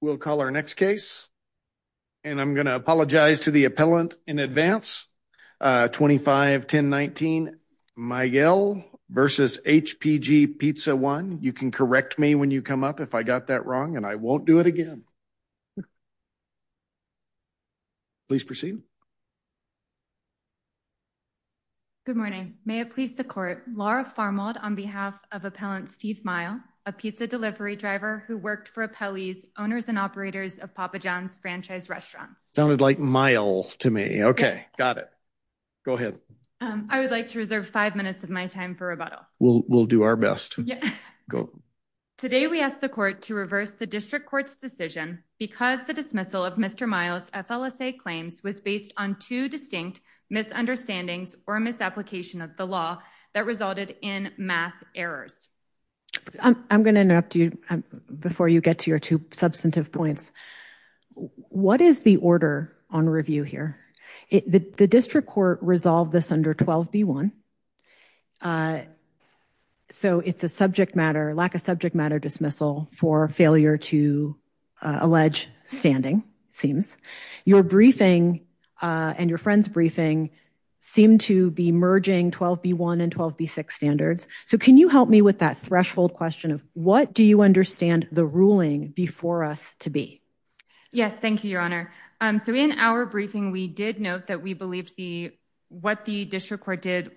We'll call our next case. And I'm going to apologize to the appellant in advance. 25-1019 Miguel v. HPG Pizza I. You can correct me when you come up if I got that wrong, and I won't do it again. Please proceed. Good morning. May it please the court. Laura Farmald on behalf of Appellant Steve Mile, a pizza delivery driver who worked for Appellee's, owners and operators of Papa John's franchise restaurants. Sounded like Mile to me. Okay, got it. Go ahead. I would like to reserve five minutes of my time for rebuttal. We'll do our best. Today we asked the court to reverse the district court's decision because the dismissal of Mr. Mile's FLSA claims was based on two distinct misunderstandings or a misapplication of the law that resulted in math errors. I'm going to interrupt you before you get to your two substantive points. What is the order on review here? The district court resolved this under 12B1. So it's a subject matter, lack of subject matter dismissal for failure to allege standing seems your briefing and your friend's briefing seem to be merging 12B1 and 12B6 standards. So can you help me with that threshold question of what do you understand the ruling before us to be? Yes, thank you, your honor. So in our briefing, we did note that we believed the what the district court did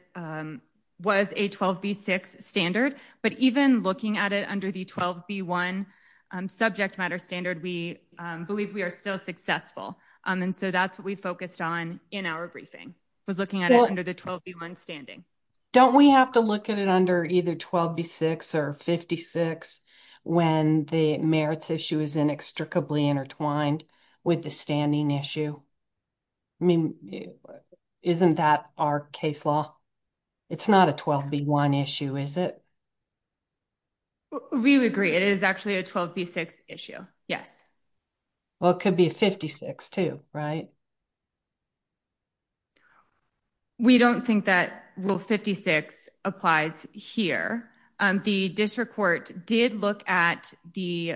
was a 12B6 standard, but even looking at it under the 12B1 subject matter standard, we believe we are still successful. And so that's what we focused on in our briefing was looking at it under the 12B1 standing. Don't we have to look at it under either 12B6 or 56 when the merits issue is inextricably intertwined with the standing issue? I mean, isn't that our case law? It's not a 12B1 issue, is it? We agree. It is actually a 12B6 issue. Yes. Well, it could be a 56 too, right? We don't think that will 56 applies here. The district court did look at the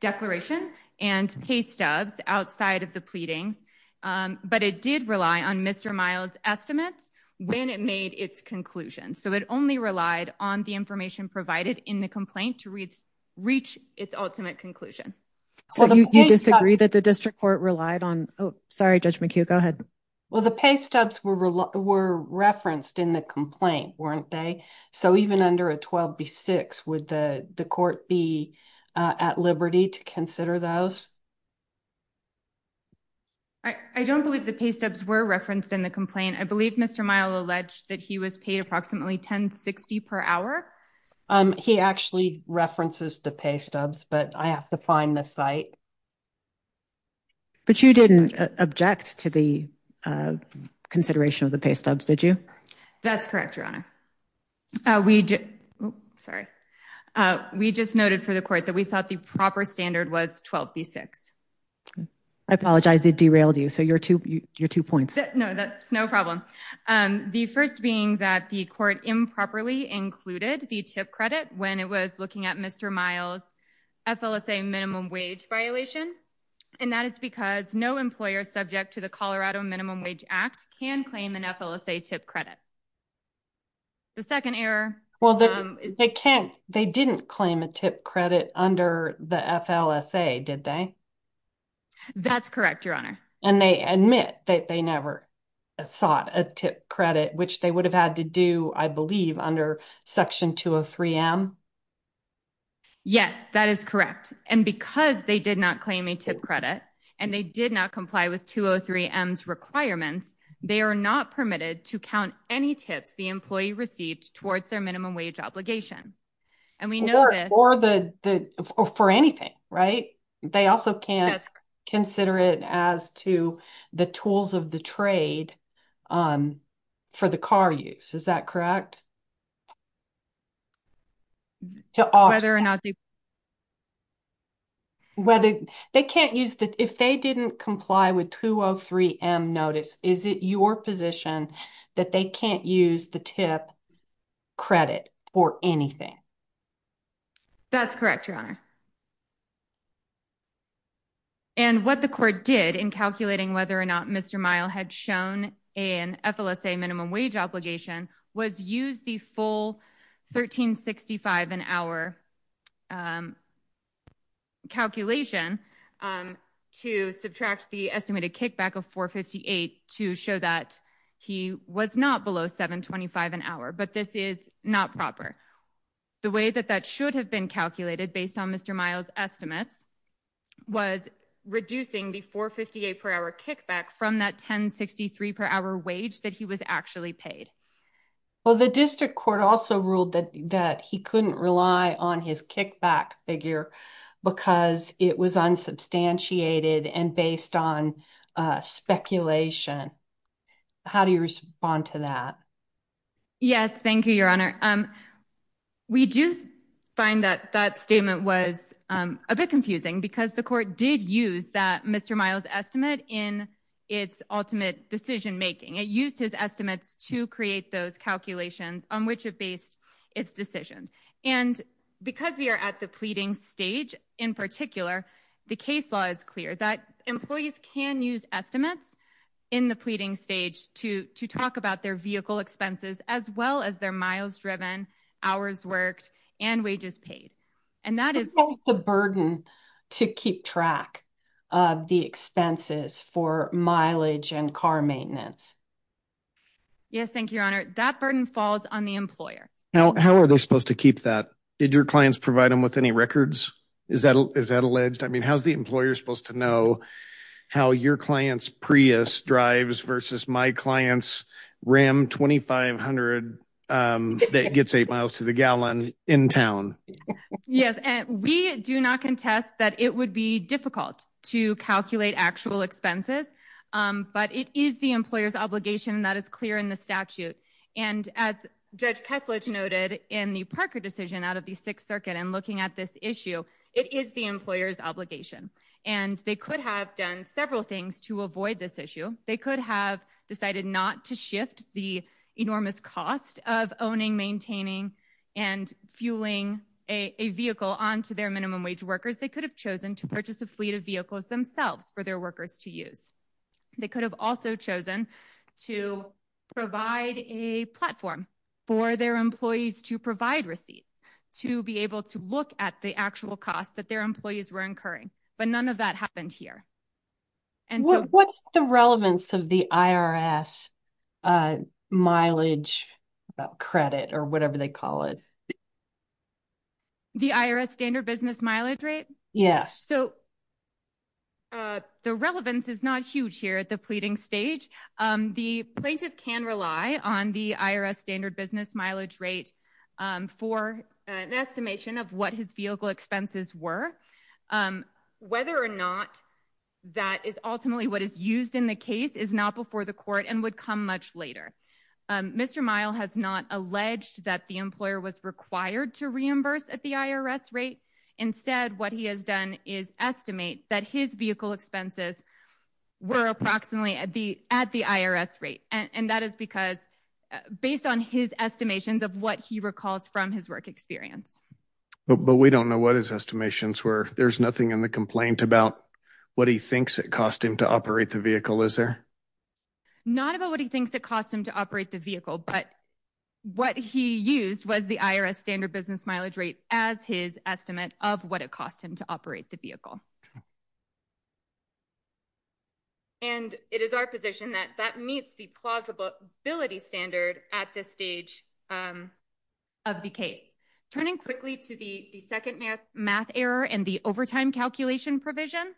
declaration and pay stubs outside of the pleadings, but it did rely on Mr. Miles' estimates when it made its conclusion. So it only relied on the information provided in the complaint to reach its ultimate conclusion. So you disagree that the district court relied on? Sorry, Judge McHugh, go ahead. Well, the pay stubs were referenced in the complaint, weren't they? So even under a 12B6, would the court be at liberty to consider those? I don't believe the pay stubs were referenced in the complaint. I believe Mr. Miles alleged that he was paid approximately 1060 per hour. He actually references the pay stubs, but I have to find the site. But you didn't object to the consideration of the pay stubs, did you? That's correct, Your Honor. We just noted for the court that we thought the proper standard was 12B6. I apologize, it derailed you. So your two points. No, that's no problem. The first being that the court improperly included the tip credit when it was looking at Mr. Miles' FLSA minimum wage violation. And that is because no employer subject to the Colorado Minimum Wage Act can claim an FLSA tip credit. The second error- Well, they didn't claim a tip credit under the FLSA, did they? That's correct, Your Honor. And they admit that they never sought a tip credit, which they would have had to do, I believe, under Section 203M? Yes, that is correct. And because they did not claim a tip credit and they did not comply with 203M's requirements, they are not permitted to count any tips the employee received towards their minimum wage obligation. And we know this- Or for anything, right? They also can't consider it as to the tools of the trade for the car use, is that correct? Whether or not they- If they didn't comply with 203M notice, is it your position that they can't use the tip credit for anything? That's correct, Your Honor. And what the court did in calculating whether or not Mr. Miles had shown an FLSA minimum wage obligation was use the full $13.65 an hour calculation to subtract the estimated kickback of $4.58 to show that he was not below $7.25 an hour, but this is not proper. The way that that should have been calculated based on Mr. Miles' estimates was reducing the $4.58 per hour kickback from that $10.63 per hour wage that he was actually paid. Well, the district court also ruled that he couldn't rely on his kickback figure because it was unsubstantiated and based on speculation. How do you respond to that? Yes, thank you, Your Honor. We do find that that statement was a bit confusing because the court did use that Mr. Miles' estimate in its ultimate decision making. It used his estimates to create those calculations on which it based its decision. And because we are at the pleading stage, in particular, the case law is clear that employees can use estimates in the pleading stage to talk about their vehicle expenses as well as their miles driven, hours worked, and wages paid. And that is the burden to keep track of the expenses for mileage and car maintenance. Yes, thank you, Your Honor. That burden falls on the employer. Now, how are they supposed to keep that? Did your clients provide them with any records? Is that is that alleged? I mean, how's the employer supposed to know how your client's Prius drives versus my client's Ram 2500 that gets eight miles to the gallon in town? Yes. And we do not contest that it would be difficult to calculate actual expenses. But it is the employer's obligation that is clear in the statute. And as Judge Ketledge noted in the Parker decision out of the Sixth Circuit and looking at this issue, it is the employer's obligation. And they could have done several things to avoid this issue. They could have decided not to shift the enormous cost of owning, maintaining, and fueling a vehicle onto their minimum wage workers. They could have chosen to purchase a fleet of vehicles themselves for their workers to use. They could have also chosen to provide a platform for their employees to provide none of that happened here. And what's the relevance of the IRS mileage credit or whatever they call it? The IRS standard business mileage rate? Yes. So the relevance is not huge here at the pleading stage. The plaintiff can rely on the IRS standard business mileage rate for an estimation of what his vehicle expenses were. Whether or not that is ultimately what is used in the case is not before the court and would come much later. Mr. Mile has not alleged that the employer was required to reimburse at the IRS rate. Instead, what he has done is estimate that his vehicle expenses were approximately at the IRS rate. And that is because based on his estimations of what he recalls from his work experience. But we don't know what his estimations were. There's nothing in the complaint about what he thinks it cost him to operate the vehicle, is there? Not about what he thinks it cost him to operate the vehicle, but what he used was the IRS standard business mileage rate as his estimate of what it cost him to operate the vehicle. And it is our position that that meets the plausibility standard at this stage of the case. Turning quickly to the second math error and the overtime calculation provision.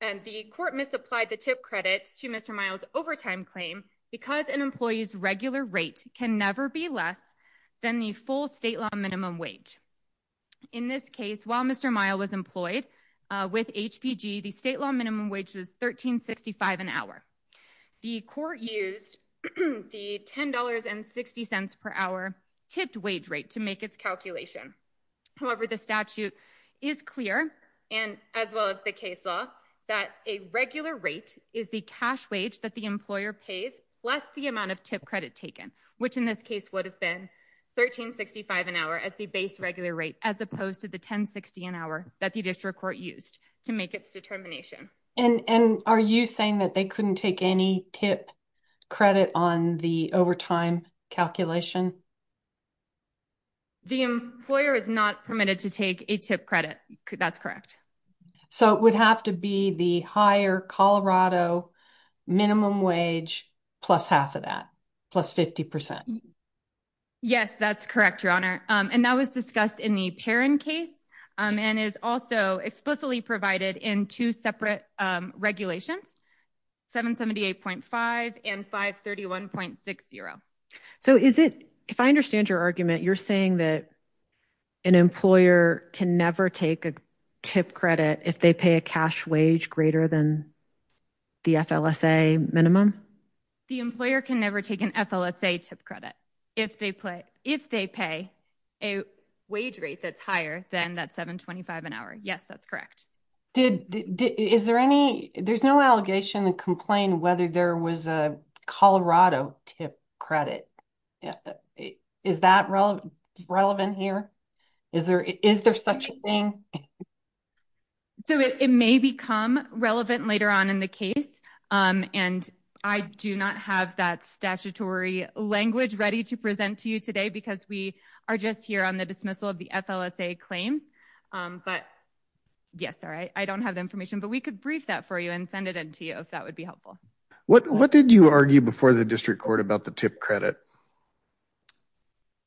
And the court misapplied the tip credits to Mr. Mile's overtime claim because an employee's regular rate can never be less than the full state law minimum wage. In this case, while Mr. Mile was with HPG, the state law minimum wage was $13.65 an hour. The court used the $10.60 per hour tipped wage rate to make its calculation. However, the statute is clear and as well as the case law that a regular rate is the cash wage that the employer pays less the amount of tip credit taken, which in this case would have been $13.65 an hour as the base regular rate as opposed to the $10.60 an hour that the district court used to make its determination. And are you saying that they couldn't take any tip credit on the overtime calculation? The employer is not permitted to take a tip credit. That's correct. So it would have to be the higher Colorado minimum wage plus half of that, plus 50%. Yes, that's correct, Your Honor. And that was discussed in the Perrin case and is also explicitly provided in two separate regulations, 778.5 and 531.60. So is it, if I understand your argument, you're saying that an employer can never take a tip credit if they pay a cash wage greater than the FLSA minimum? The employer can never take an FLSA tip credit if they pay a wage rate that's higher than that $7.25 an hour. Yes, that's correct. Is there any, there's no allegation to complain whether there was a Colorado tip credit. Is that relevant here? Is there such a thing? So it may become relevant later on in the case. And I do not have that statutory language ready to present to you today because we are just here on the dismissal of the FLSA claims. But yes, all right. I don't have the information, but we could brief that for you and send it in to you if that would be helpful. What did you argue before the district court about the tip credit?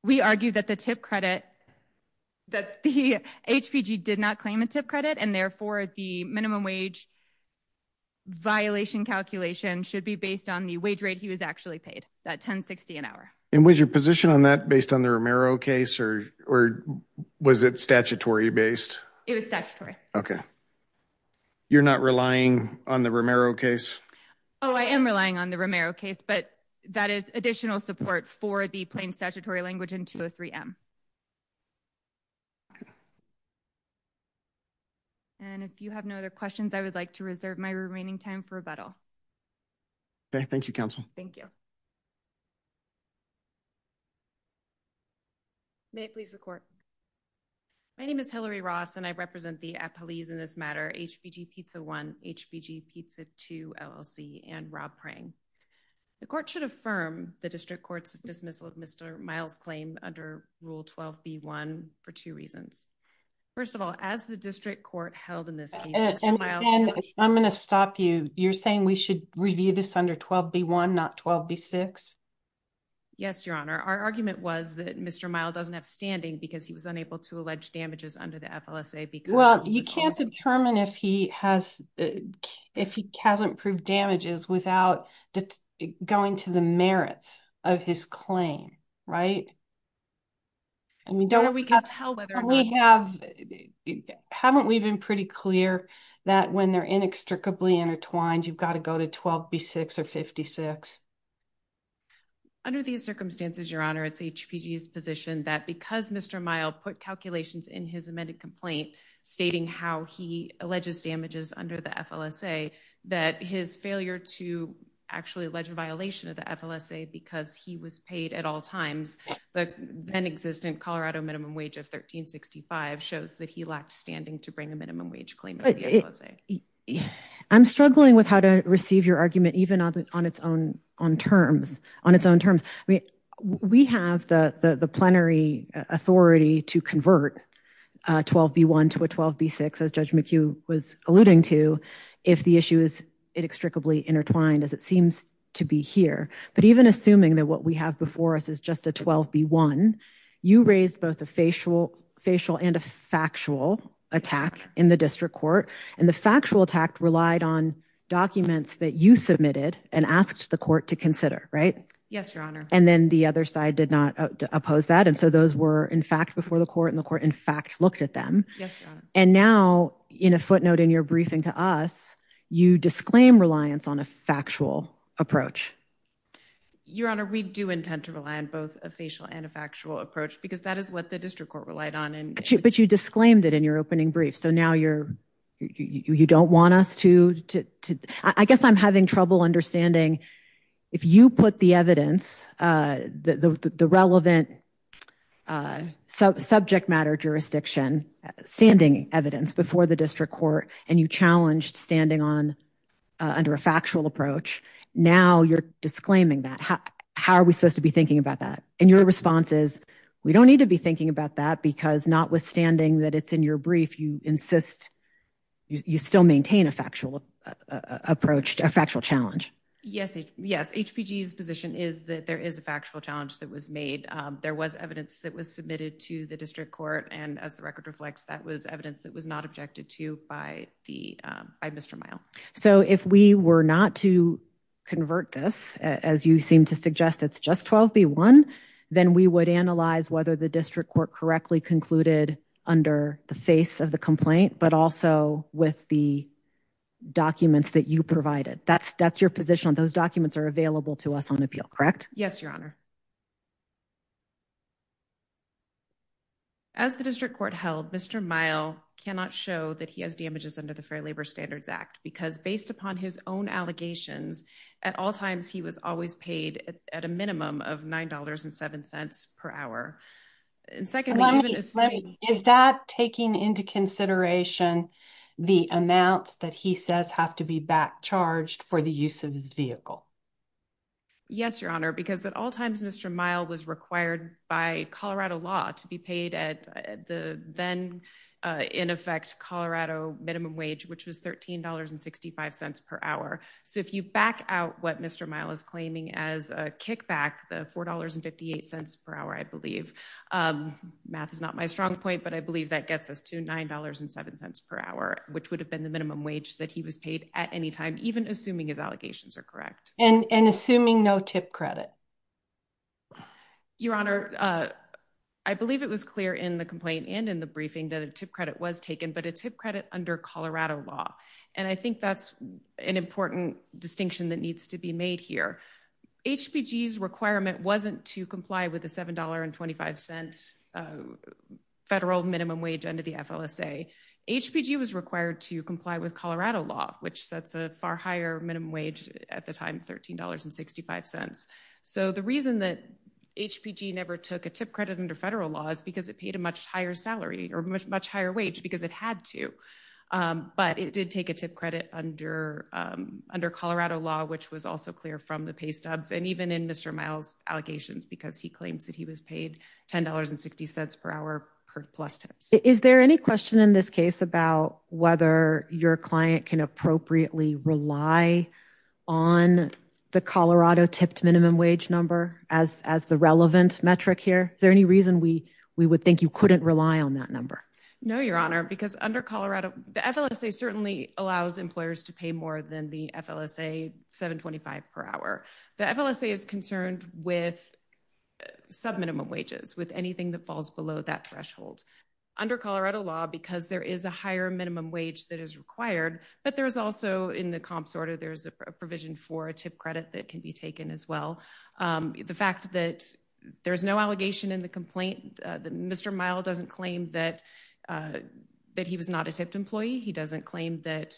We argued that the tip credit, that the HPG did not claim a tip credit and therefore the minimum wage violation calculation should be based on the wage rate he was actually paid, that $10.60 an hour. And was your position on that based on the Romero case or was it statutory based? It was statutory. Okay. You're not relying on the Romero case? Oh, I am relying on the Romero case, but that is additional support for the plain statutory language in 203M. Okay. And if you have no other questions, I would like to reserve my remaining time for rebuttal. Okay. Thank you, counsel. Thank you. May it please the court. My name is Hillary Ross and I represent the appellees in this matter, HPG Pizza One, HPG Pizza Two LLC and Rob Prang. The court should affirm the district court's dismissal of Mr. Miles' claim under Rule 12B1 for two reasons. First of all, as the district court held in this case- And again, I'm going to stop you. You're saying we should review this under 12B1, not 12B6? Yes, Your Honor. Our argument was that Mr. Miles doesn't have standing because he was unable to allege damages under the FLSA because- You can't determine if he hasn't proved damages without going to the merits of his claim, right? Haven't we been pretty clear that when they're inextricably intertwined, you've got to go to 12B6 or 56? Under these circumstances, Your Honor, it's HPG's position that because Mr. Miles put calculations in his amended complaint stating how he alleges damages under the FLSA, that his failure to actually allege a violation of the FLSA because he was paid at all times, the then-existent Colorado minimum wage of $13.65 shows that he lacked standing to bring a minimum wage claim under the FLSA. I'm struggling with how to receive your argument even on its own terms. We have the plenary authority to convert 12B1 to a 12B6, as Judge McHugh was alluding to, if the issue is inextricably intertwined as it seems to be here. But even assuming that what we have before us is just a 12B1, you raised both a facial and a factual attack in the district court. And the factual attack relied on documents that you submitted and asked the court to consider, right? Yes, Your Honor. And then the other side did not oppose that. And so those were in fact before the court and the court in fact looked at them. Yes, Your Honor. And now in a footnote in your briefing to us, you disclaim reliance on a factual approach. Your Honor, we do intend to rely on both a facial and a factual approach because that is what the district court relied on. But you disclaimed it in your opening brief. So now you don't want us to. I guess I'm having trouble understanding if you put the evidence, the relevant subject matter jurisdiction standing evidence before the district court and you challenged standing under a factual approach. Now you're disclaiming that. How are we supposed to be thinking about that? And your response is we don't need to be thinking about that because notwithstanding that it's in your brief, you insist you still maintain a factual approach, a factual challenge. Yes. Yes. HPG's position is that there is a factual challenge that was made. There was evidence that was submitted to the district court. And as the record reflects, that was evidence that was not objected to by Mr. Mile. So if we were not to convert this, as you seem to suggest, it's just 12B1, then we would analyze whether the district court correctly concluded under the face of the complaint, but also with the documents that you provided. That's your position. Those documents are available to us on appeal, correct? Yes, your honor. As the district court held, Mr. Mile cannot show that he has damages under the Fair Labor Standards Act because based upon his own allegations, at all times he was always paid at a minimum of $9.07 per hour. And second, is that taking into consideration the amounts that he says have to be back charged for the use of his vehicle? Yes, your honor. Because at all times, Mr. Mile was required by Colorado law to be paid at the then in effect Colorado minimum wage, which was $13.65 per hour. So if you back out what Mr. Mile is claiming as a kickback, the $4.58 per hour, I believe, math is not my strong point, but I believe that gets us to $9.07 per hour, which would have been the minimum wage that he was paid at any time, even assuming his allegations are correct. And it was clear in the complaint and in the briefing that a tip credit was taken, but a tip credit under Colorado law. And I think that's an important distinction that needs to be made here. HPG's requirement wasn't to comply with a $7.25 federal minimum wage under the FLSA. HPG was required to comply with Colorado law, which sets a far higher minimum wage at the time, $13.65. So the reason that HPG never took a tip credit under federal law is because it paid a much higher salary or much, much higher wage because it had to. But it did take a tip credit under Colorado law, which was also clear from the pay stubs and even in Mr. Mile's allegations, because he claims that he was paid $10.60 per hour per plus tips. Is there any question in this case about whether your client can appropriately rely on the Colorado tipped minimum wage number as the relevant metric here? Is there any reason we would think you couldn't rely on that number? No, Your Honor, because under Colorado, the FLSA certainly allows employers to pay more than the FLSA $7.25 per hour. The FLSA is concerned with subminimum wages, with anything that falls below that threshold. Under Colorado law, because there is a higher minimum wage that is required, but there's also in the comps order, there's a provision for a tip credit that can be taken as well. The fact that there's no allegation in the complaint, Mr. Mile doesn't claim that he was not a tipped employee. He doesn't claim that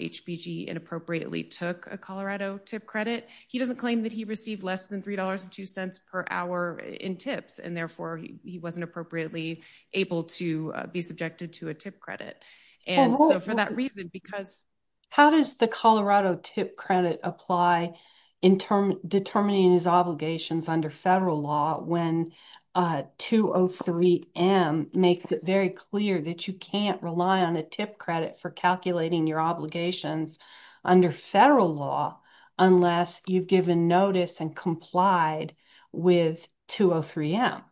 HPG inappropriately took a Colorado tip credit. He doesn't claim that he received less than $3.02 per hour in tips and therefore he wasn't appropriately able to be subjected to a tip credit. For that reason, because- How does the Colorado tip credit apply in determining his obligations under federal law when 203M makes it very clear that you can't rely on a tip credit for calculating your obligations under federal law unless you've given notice and complied with 203M?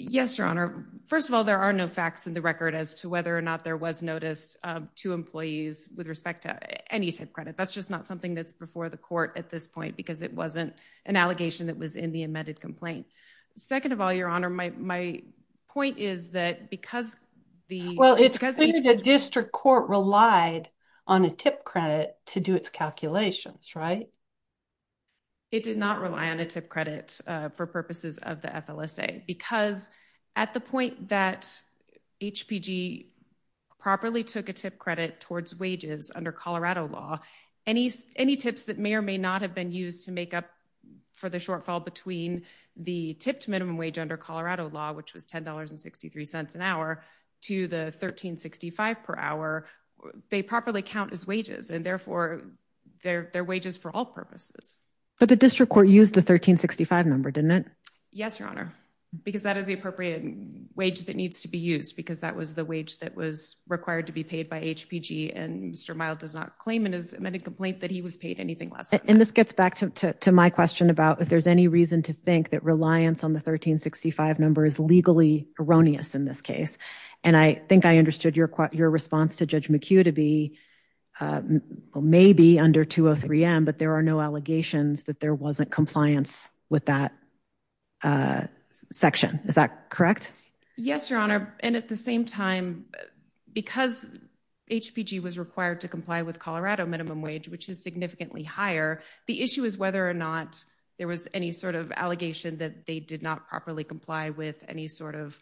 Yes, Your Honor. First of all, there are no facts in the record as to whether or not there was notice to employees with respect to any tip credit. That's just not something that's before the court at this point because it wasn't an allegation that was in the amended complaint. Second of all, Your Honor, my point is that because the- Well, it's clear the district court relied on a tip credit to do its calculations, right? It did not rely on a tip credit for purposes of the FLSA because at the point that HPG properly took a tip credit towards wages under Colorado law, any tips that may or may not have been used to make up for the shortfall between the tipped minimum wage under Colorado law, which was $10.63 an hour, to the $13.65 per hour, they properly count as wages and therefore they're wages for all purposes. But the district court used the $13.65 number, didn't it? Yes, Your Honor, because that is the appropriate wage that needs to be used because that was the wage that was required to be paid by HPG and Mr. Mild does not claim in his amended complaint that he was paid anything less than that. And this gets back to my question about if there's any reason to think that reliance on the $13.65 number is legally erroneous in this case. And I think I understood your response to Judge McHugh to be maybe under 203M, but there are no allegations that there wasn't compliance with that section. Is that correct? Yes, Your Honor. And at the same time, because HPG was required to comply with Colorado minimum wage, which is significantly higher, the issue is whether or not there was any sort of allegation that they did not properly comply with any sort of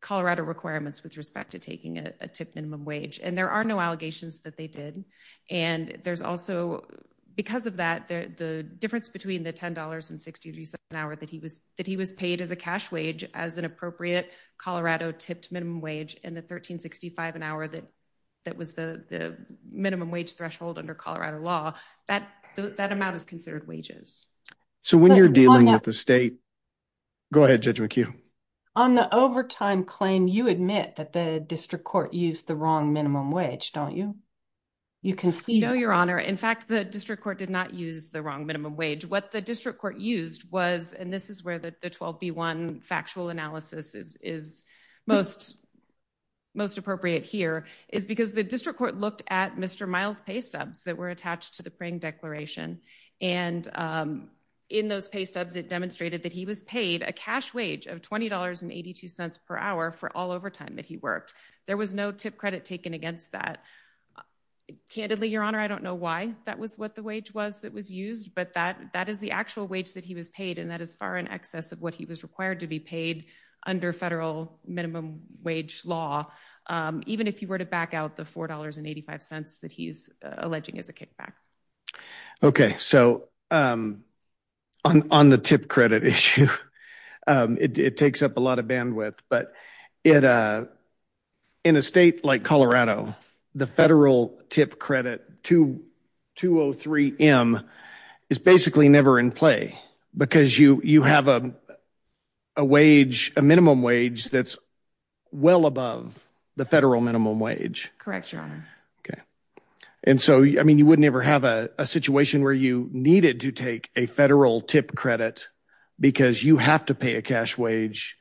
Colorado requirements with respect to taking a tipped minimum wage. And there are no allegations that they did. And there's also, because of that, the difference between the $10.63 an hour that he was paid as a cash wage as an appropriate Colorado tipped minimum wage and the $13.65 an hour that was the minimum wage threshold under law, that that amount is considered wages. So when you're dealing with the state, go ahead, Judge McHugh. On the overtime claim, you admit that the district court used the wrong minimum wage, don't you? You can see. No, Your Honor. In fact, the district court did not use the wrong minimum wage. What the district court used was, and this is where the 12B1 factual analysis is most appropriate here, is because the district court looked at Mr. Miles' pay stubs that were attached to the Pring Declaration. And in those pay stubs, it demonstrated that he was paid a cash wage of $20.82 per hour for all overtime that he worked. There was no tip credit taken against that. Candidly, Your Honor, I don't know why that was what the wage was that was used, but that is the actual wage that he was paid. And that is far in excess of what he was required to be paid under federal minimum wage law. Even if you were to back out $4.85 that he's alleging is a kickback. Okay, so on the tip credit issue, it takes up a lot of bandwidth. But in a state like Colorado, the federal tip credit, 203M, is basically never in because you have a minimum wage that's well above the federal minimum wage. Correct, Your Honor. Okay. And so, I mean, you wouldn't ever have a situation where you needed to take a federal tip credit because you have to pay a cash wage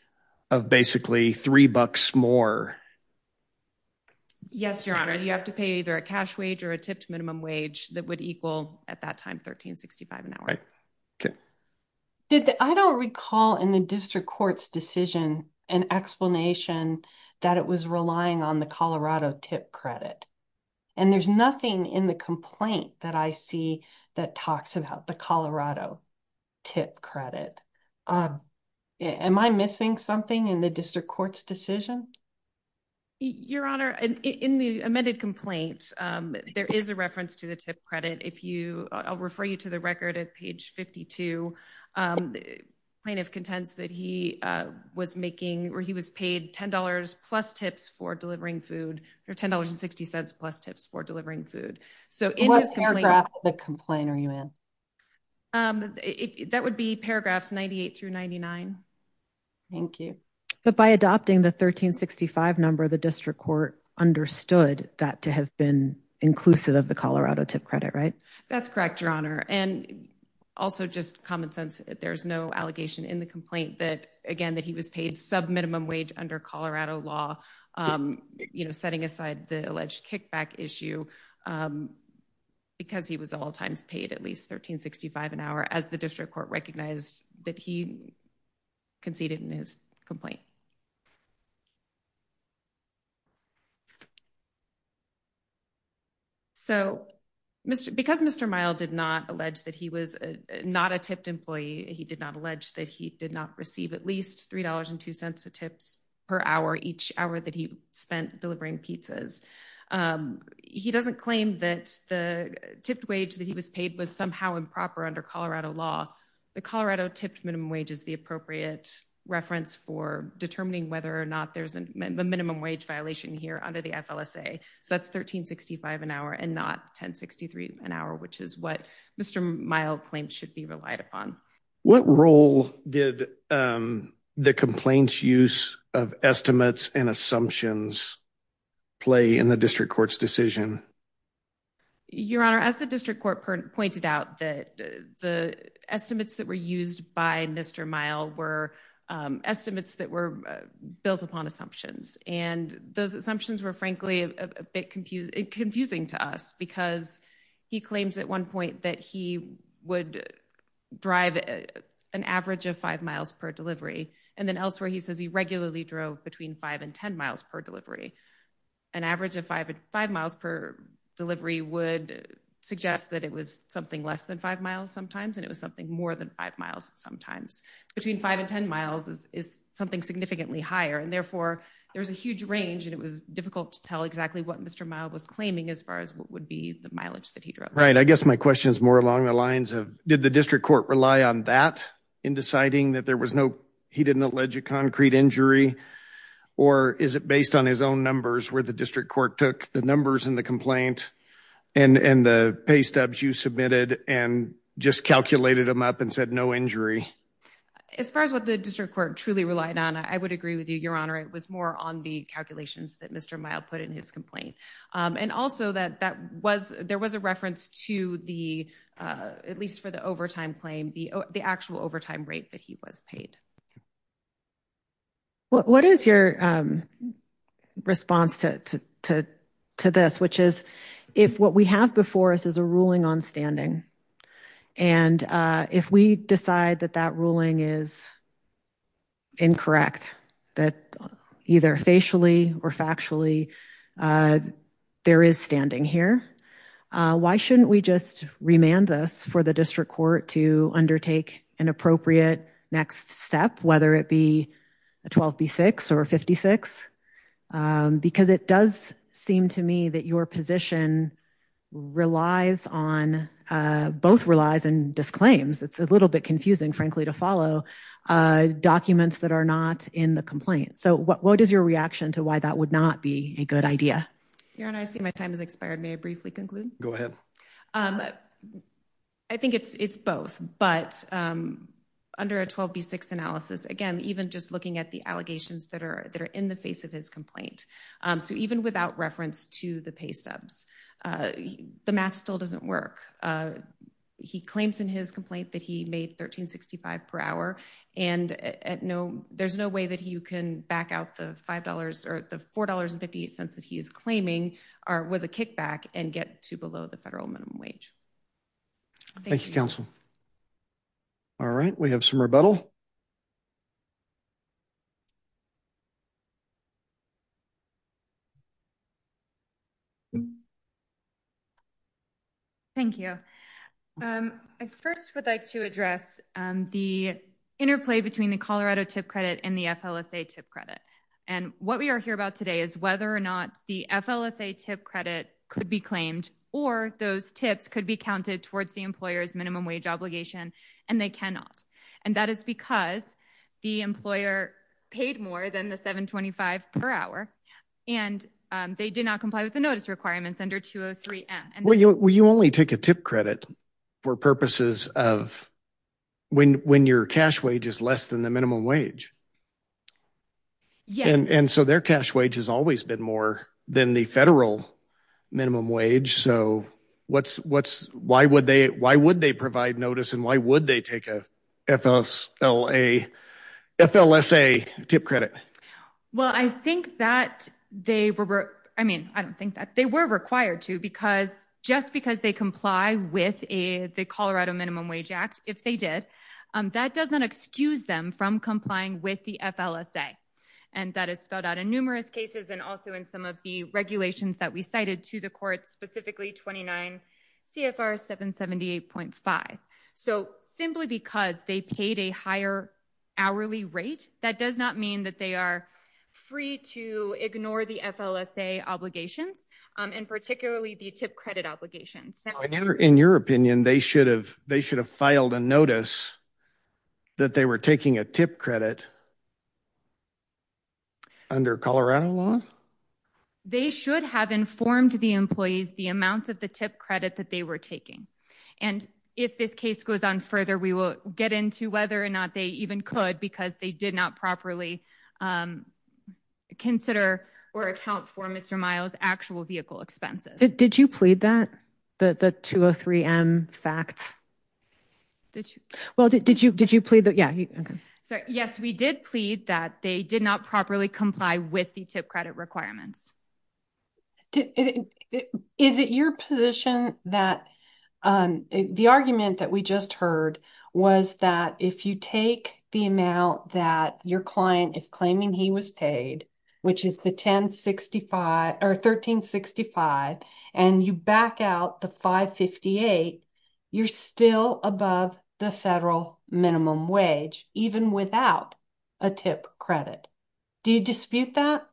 of basically three bucks more. Yes, Your Honor. You have to pay either a cash wage or a tipped minimum wage that would at that time $13.65 an hour. Okay. I don't recall in the district court's decision an explanation that it was relying on the Colorado tip credit. And there's nothing in the complaint that I see that talks about the Colorado tip credit. Am I missing something in the district court's decision? Your Honor, in the amended complaint, there is a reference to the tip credit. I'll refer you to the record at page 52. Plaintiff contends that he was paid $10 plus tips for delivering food, or $10.60 plus tips for delivering food. What paragraph of the complaint are you in? Um, that would be paragraphs 98 through 99. Thank you. But by adopting the $13.65 number, the district court understood that to have been inclusive of the Colorado tip credit, right? That's correct, Your Honor. And also just common sense, there's no allegation in the complaint that, again, that he was paid sub-minimum wage under Colorado law, you know, setting aside the kickback issue, because he was at all times paid at least $13.65 an hour, as the district court recognized that he conceded in his complaint. So, because Mr. Mile did not allege that he was not a tipped employee, he did not allege that he did not receive at least $3.02 of tips per hour each hour that he spent delivering pizzas. He doesn't claim that the tipped wage that he was paid was somehow improper under Colorado law. The Colorado tipped minimum wage is the appropriate reference for determining whether or not there's a minimum wage violation here under the FLSA. So that's $13.65 an hour and not $10.63 an hour, which is what Mr. Mile claims should be relied upon. What role did the complaint's use of estimates and assumptions play in the district court's decision? Your Honor, as the district court pointed out that the estimates that were used by Mr. Mile were estimates that were built upon assumptions. And those assumptions were frankly a bit confusing to us, because he claims at one point that he would drive an average of five miles per delivery. And then elsewhere, he says he regularly drove between five and 10 miles per delivery. An average of five miles per delivery would suggest that it was something less than five miles sometimes, and it was something more than five miles sometimes. Between five and 10 miles is something significantly higher. And therefore, there's a huge range, and it was difficult to tell exactly what Mr. Mile was claiming as far as what would be the mileage that he drove. Right. I guess my question is more along the lines of, did the district court rely on that in deciding that there was no, he didn't allege a concrete injury, or is it based on his own numbers where the district court took the numbers in the complaint and the pay stubs you submitted and just calculated them up and said no injury? As far as what the district court truly relied on, I would agree with you, Your Honor. It was more on the calculations that Mr. Mile put in his complaint. And also that there was a reference to the, at least for the overtime claim, the actual overtime rate that he was paid. What is your response to this? Which is, if what we have before us is a ruling on standing, and if we decide that that ruling is incorrect, that either facially or factually there is standing here, why shouldn't we just remand this for the district court to undertake an appropriate next step, whether it be a 12B6 or 56? Because it does seem to me that your position relies on, both relies and disclaims, it's a little bit confusing, frankly, to follow documents that are not in the complaint. So what is your reaction to why that would not be a good idea? Your Honor, I see my time has expired. May I briefly conclude? Go ahead. I think it's it's both, but under a 12B6 analysis, again, even just looking at the allegations that are that are in the face of his complaint. So even without reference to the pay stubs, the math still doesn't work. He claims in his complaint that he made $13.65 per hour and there's no way that you can back out the $5 or the $4.58 that he is claiming was a kickback and get to below the federal minimum wage. Thank you, counsel. All right, we have some rebuttal. Thank you. I first would like to address the interplay between the Colorado tip credit and the FLSA tip credit. And what we are here about today is whether or not the FLSA tip credit could be claimed or those tips could be counted towards the employer's minimum wage obligation, and they not. And that is because the employer paid more than the $7.25 per hour, and they did not comply with the notice requirements under 203M. Well, you only take a tip credit for purposes of when your cash wage is less than the minimum wage. Yes. And so their cash wage has always been more than the federal minimum wage. So what's why would they why would they provide notice and why would they take a FLSA tip credit? Well, I think that they were, I mean, I don't think that they were required to because just because they comply with the Colorado Minimum Wage Act, if they did, that doesn't excuse them from complying with the FLSA. And that is spelled out in numerous cases and also in some of the regulations that we cited to the court, specifically 29 CFR 778.5. So simply because they paid a higher hourly rate, that does not mean that they are free to ignore the FLSA obligations, and particularly the tip credit obligations. In your opinion, they should have they should have filed a notice that they were taking a tip credit under Colorado law? They should have informed the employees the amount of the tip credit that were taking. And if this case goes on further, we will get into whether or not they even could because they did not properly consider or account for Mr. Miles actual vehicle expenses. Did you plead that the 203 M facts? Did you? Well, did you? Did you plead that? Yeah. Yes, we did plead that they did not properly comply with the tip credit requirements. Is it your position that the argument that we just heard was that if you take the amount that your client is claiming he was paid, which is the 1065 or 1365, and you back out the 558, you're still above the federal minimum wage, even without a tip credit. Do you dispute that?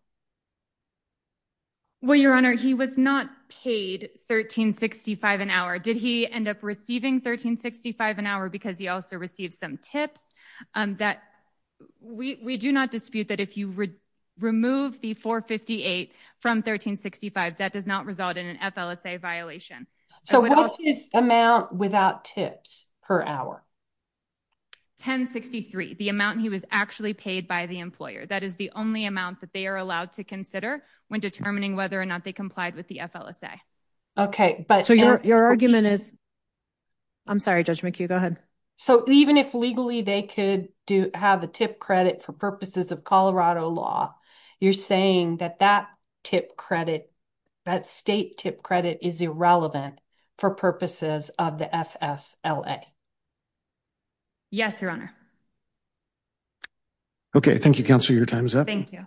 Well, Your Honor, he was not paid 1365 an hour. Did he end up receiving 1365 an hour because he also received some tips that we do not dispute that if you would remove the 458 from 1365, that does not result in an FLSA violation. So what's his amount without tips per hour? 1063, the amount he was actually paid by the employer. That is the only amount that they are to consider when determining whether or not they complied with the FLSA. Okay, but your argument is I'm sorry, Judge McHugh. Go ahead. So even if legally they could do have a tip credit for purposes of Colorado law, you're saying that that tip credit, that state tip credit is irrelevant for purposes of the FSLA. Yes, Your Honor. Okay. Thank you, Counselor. Your time is up. Thank you.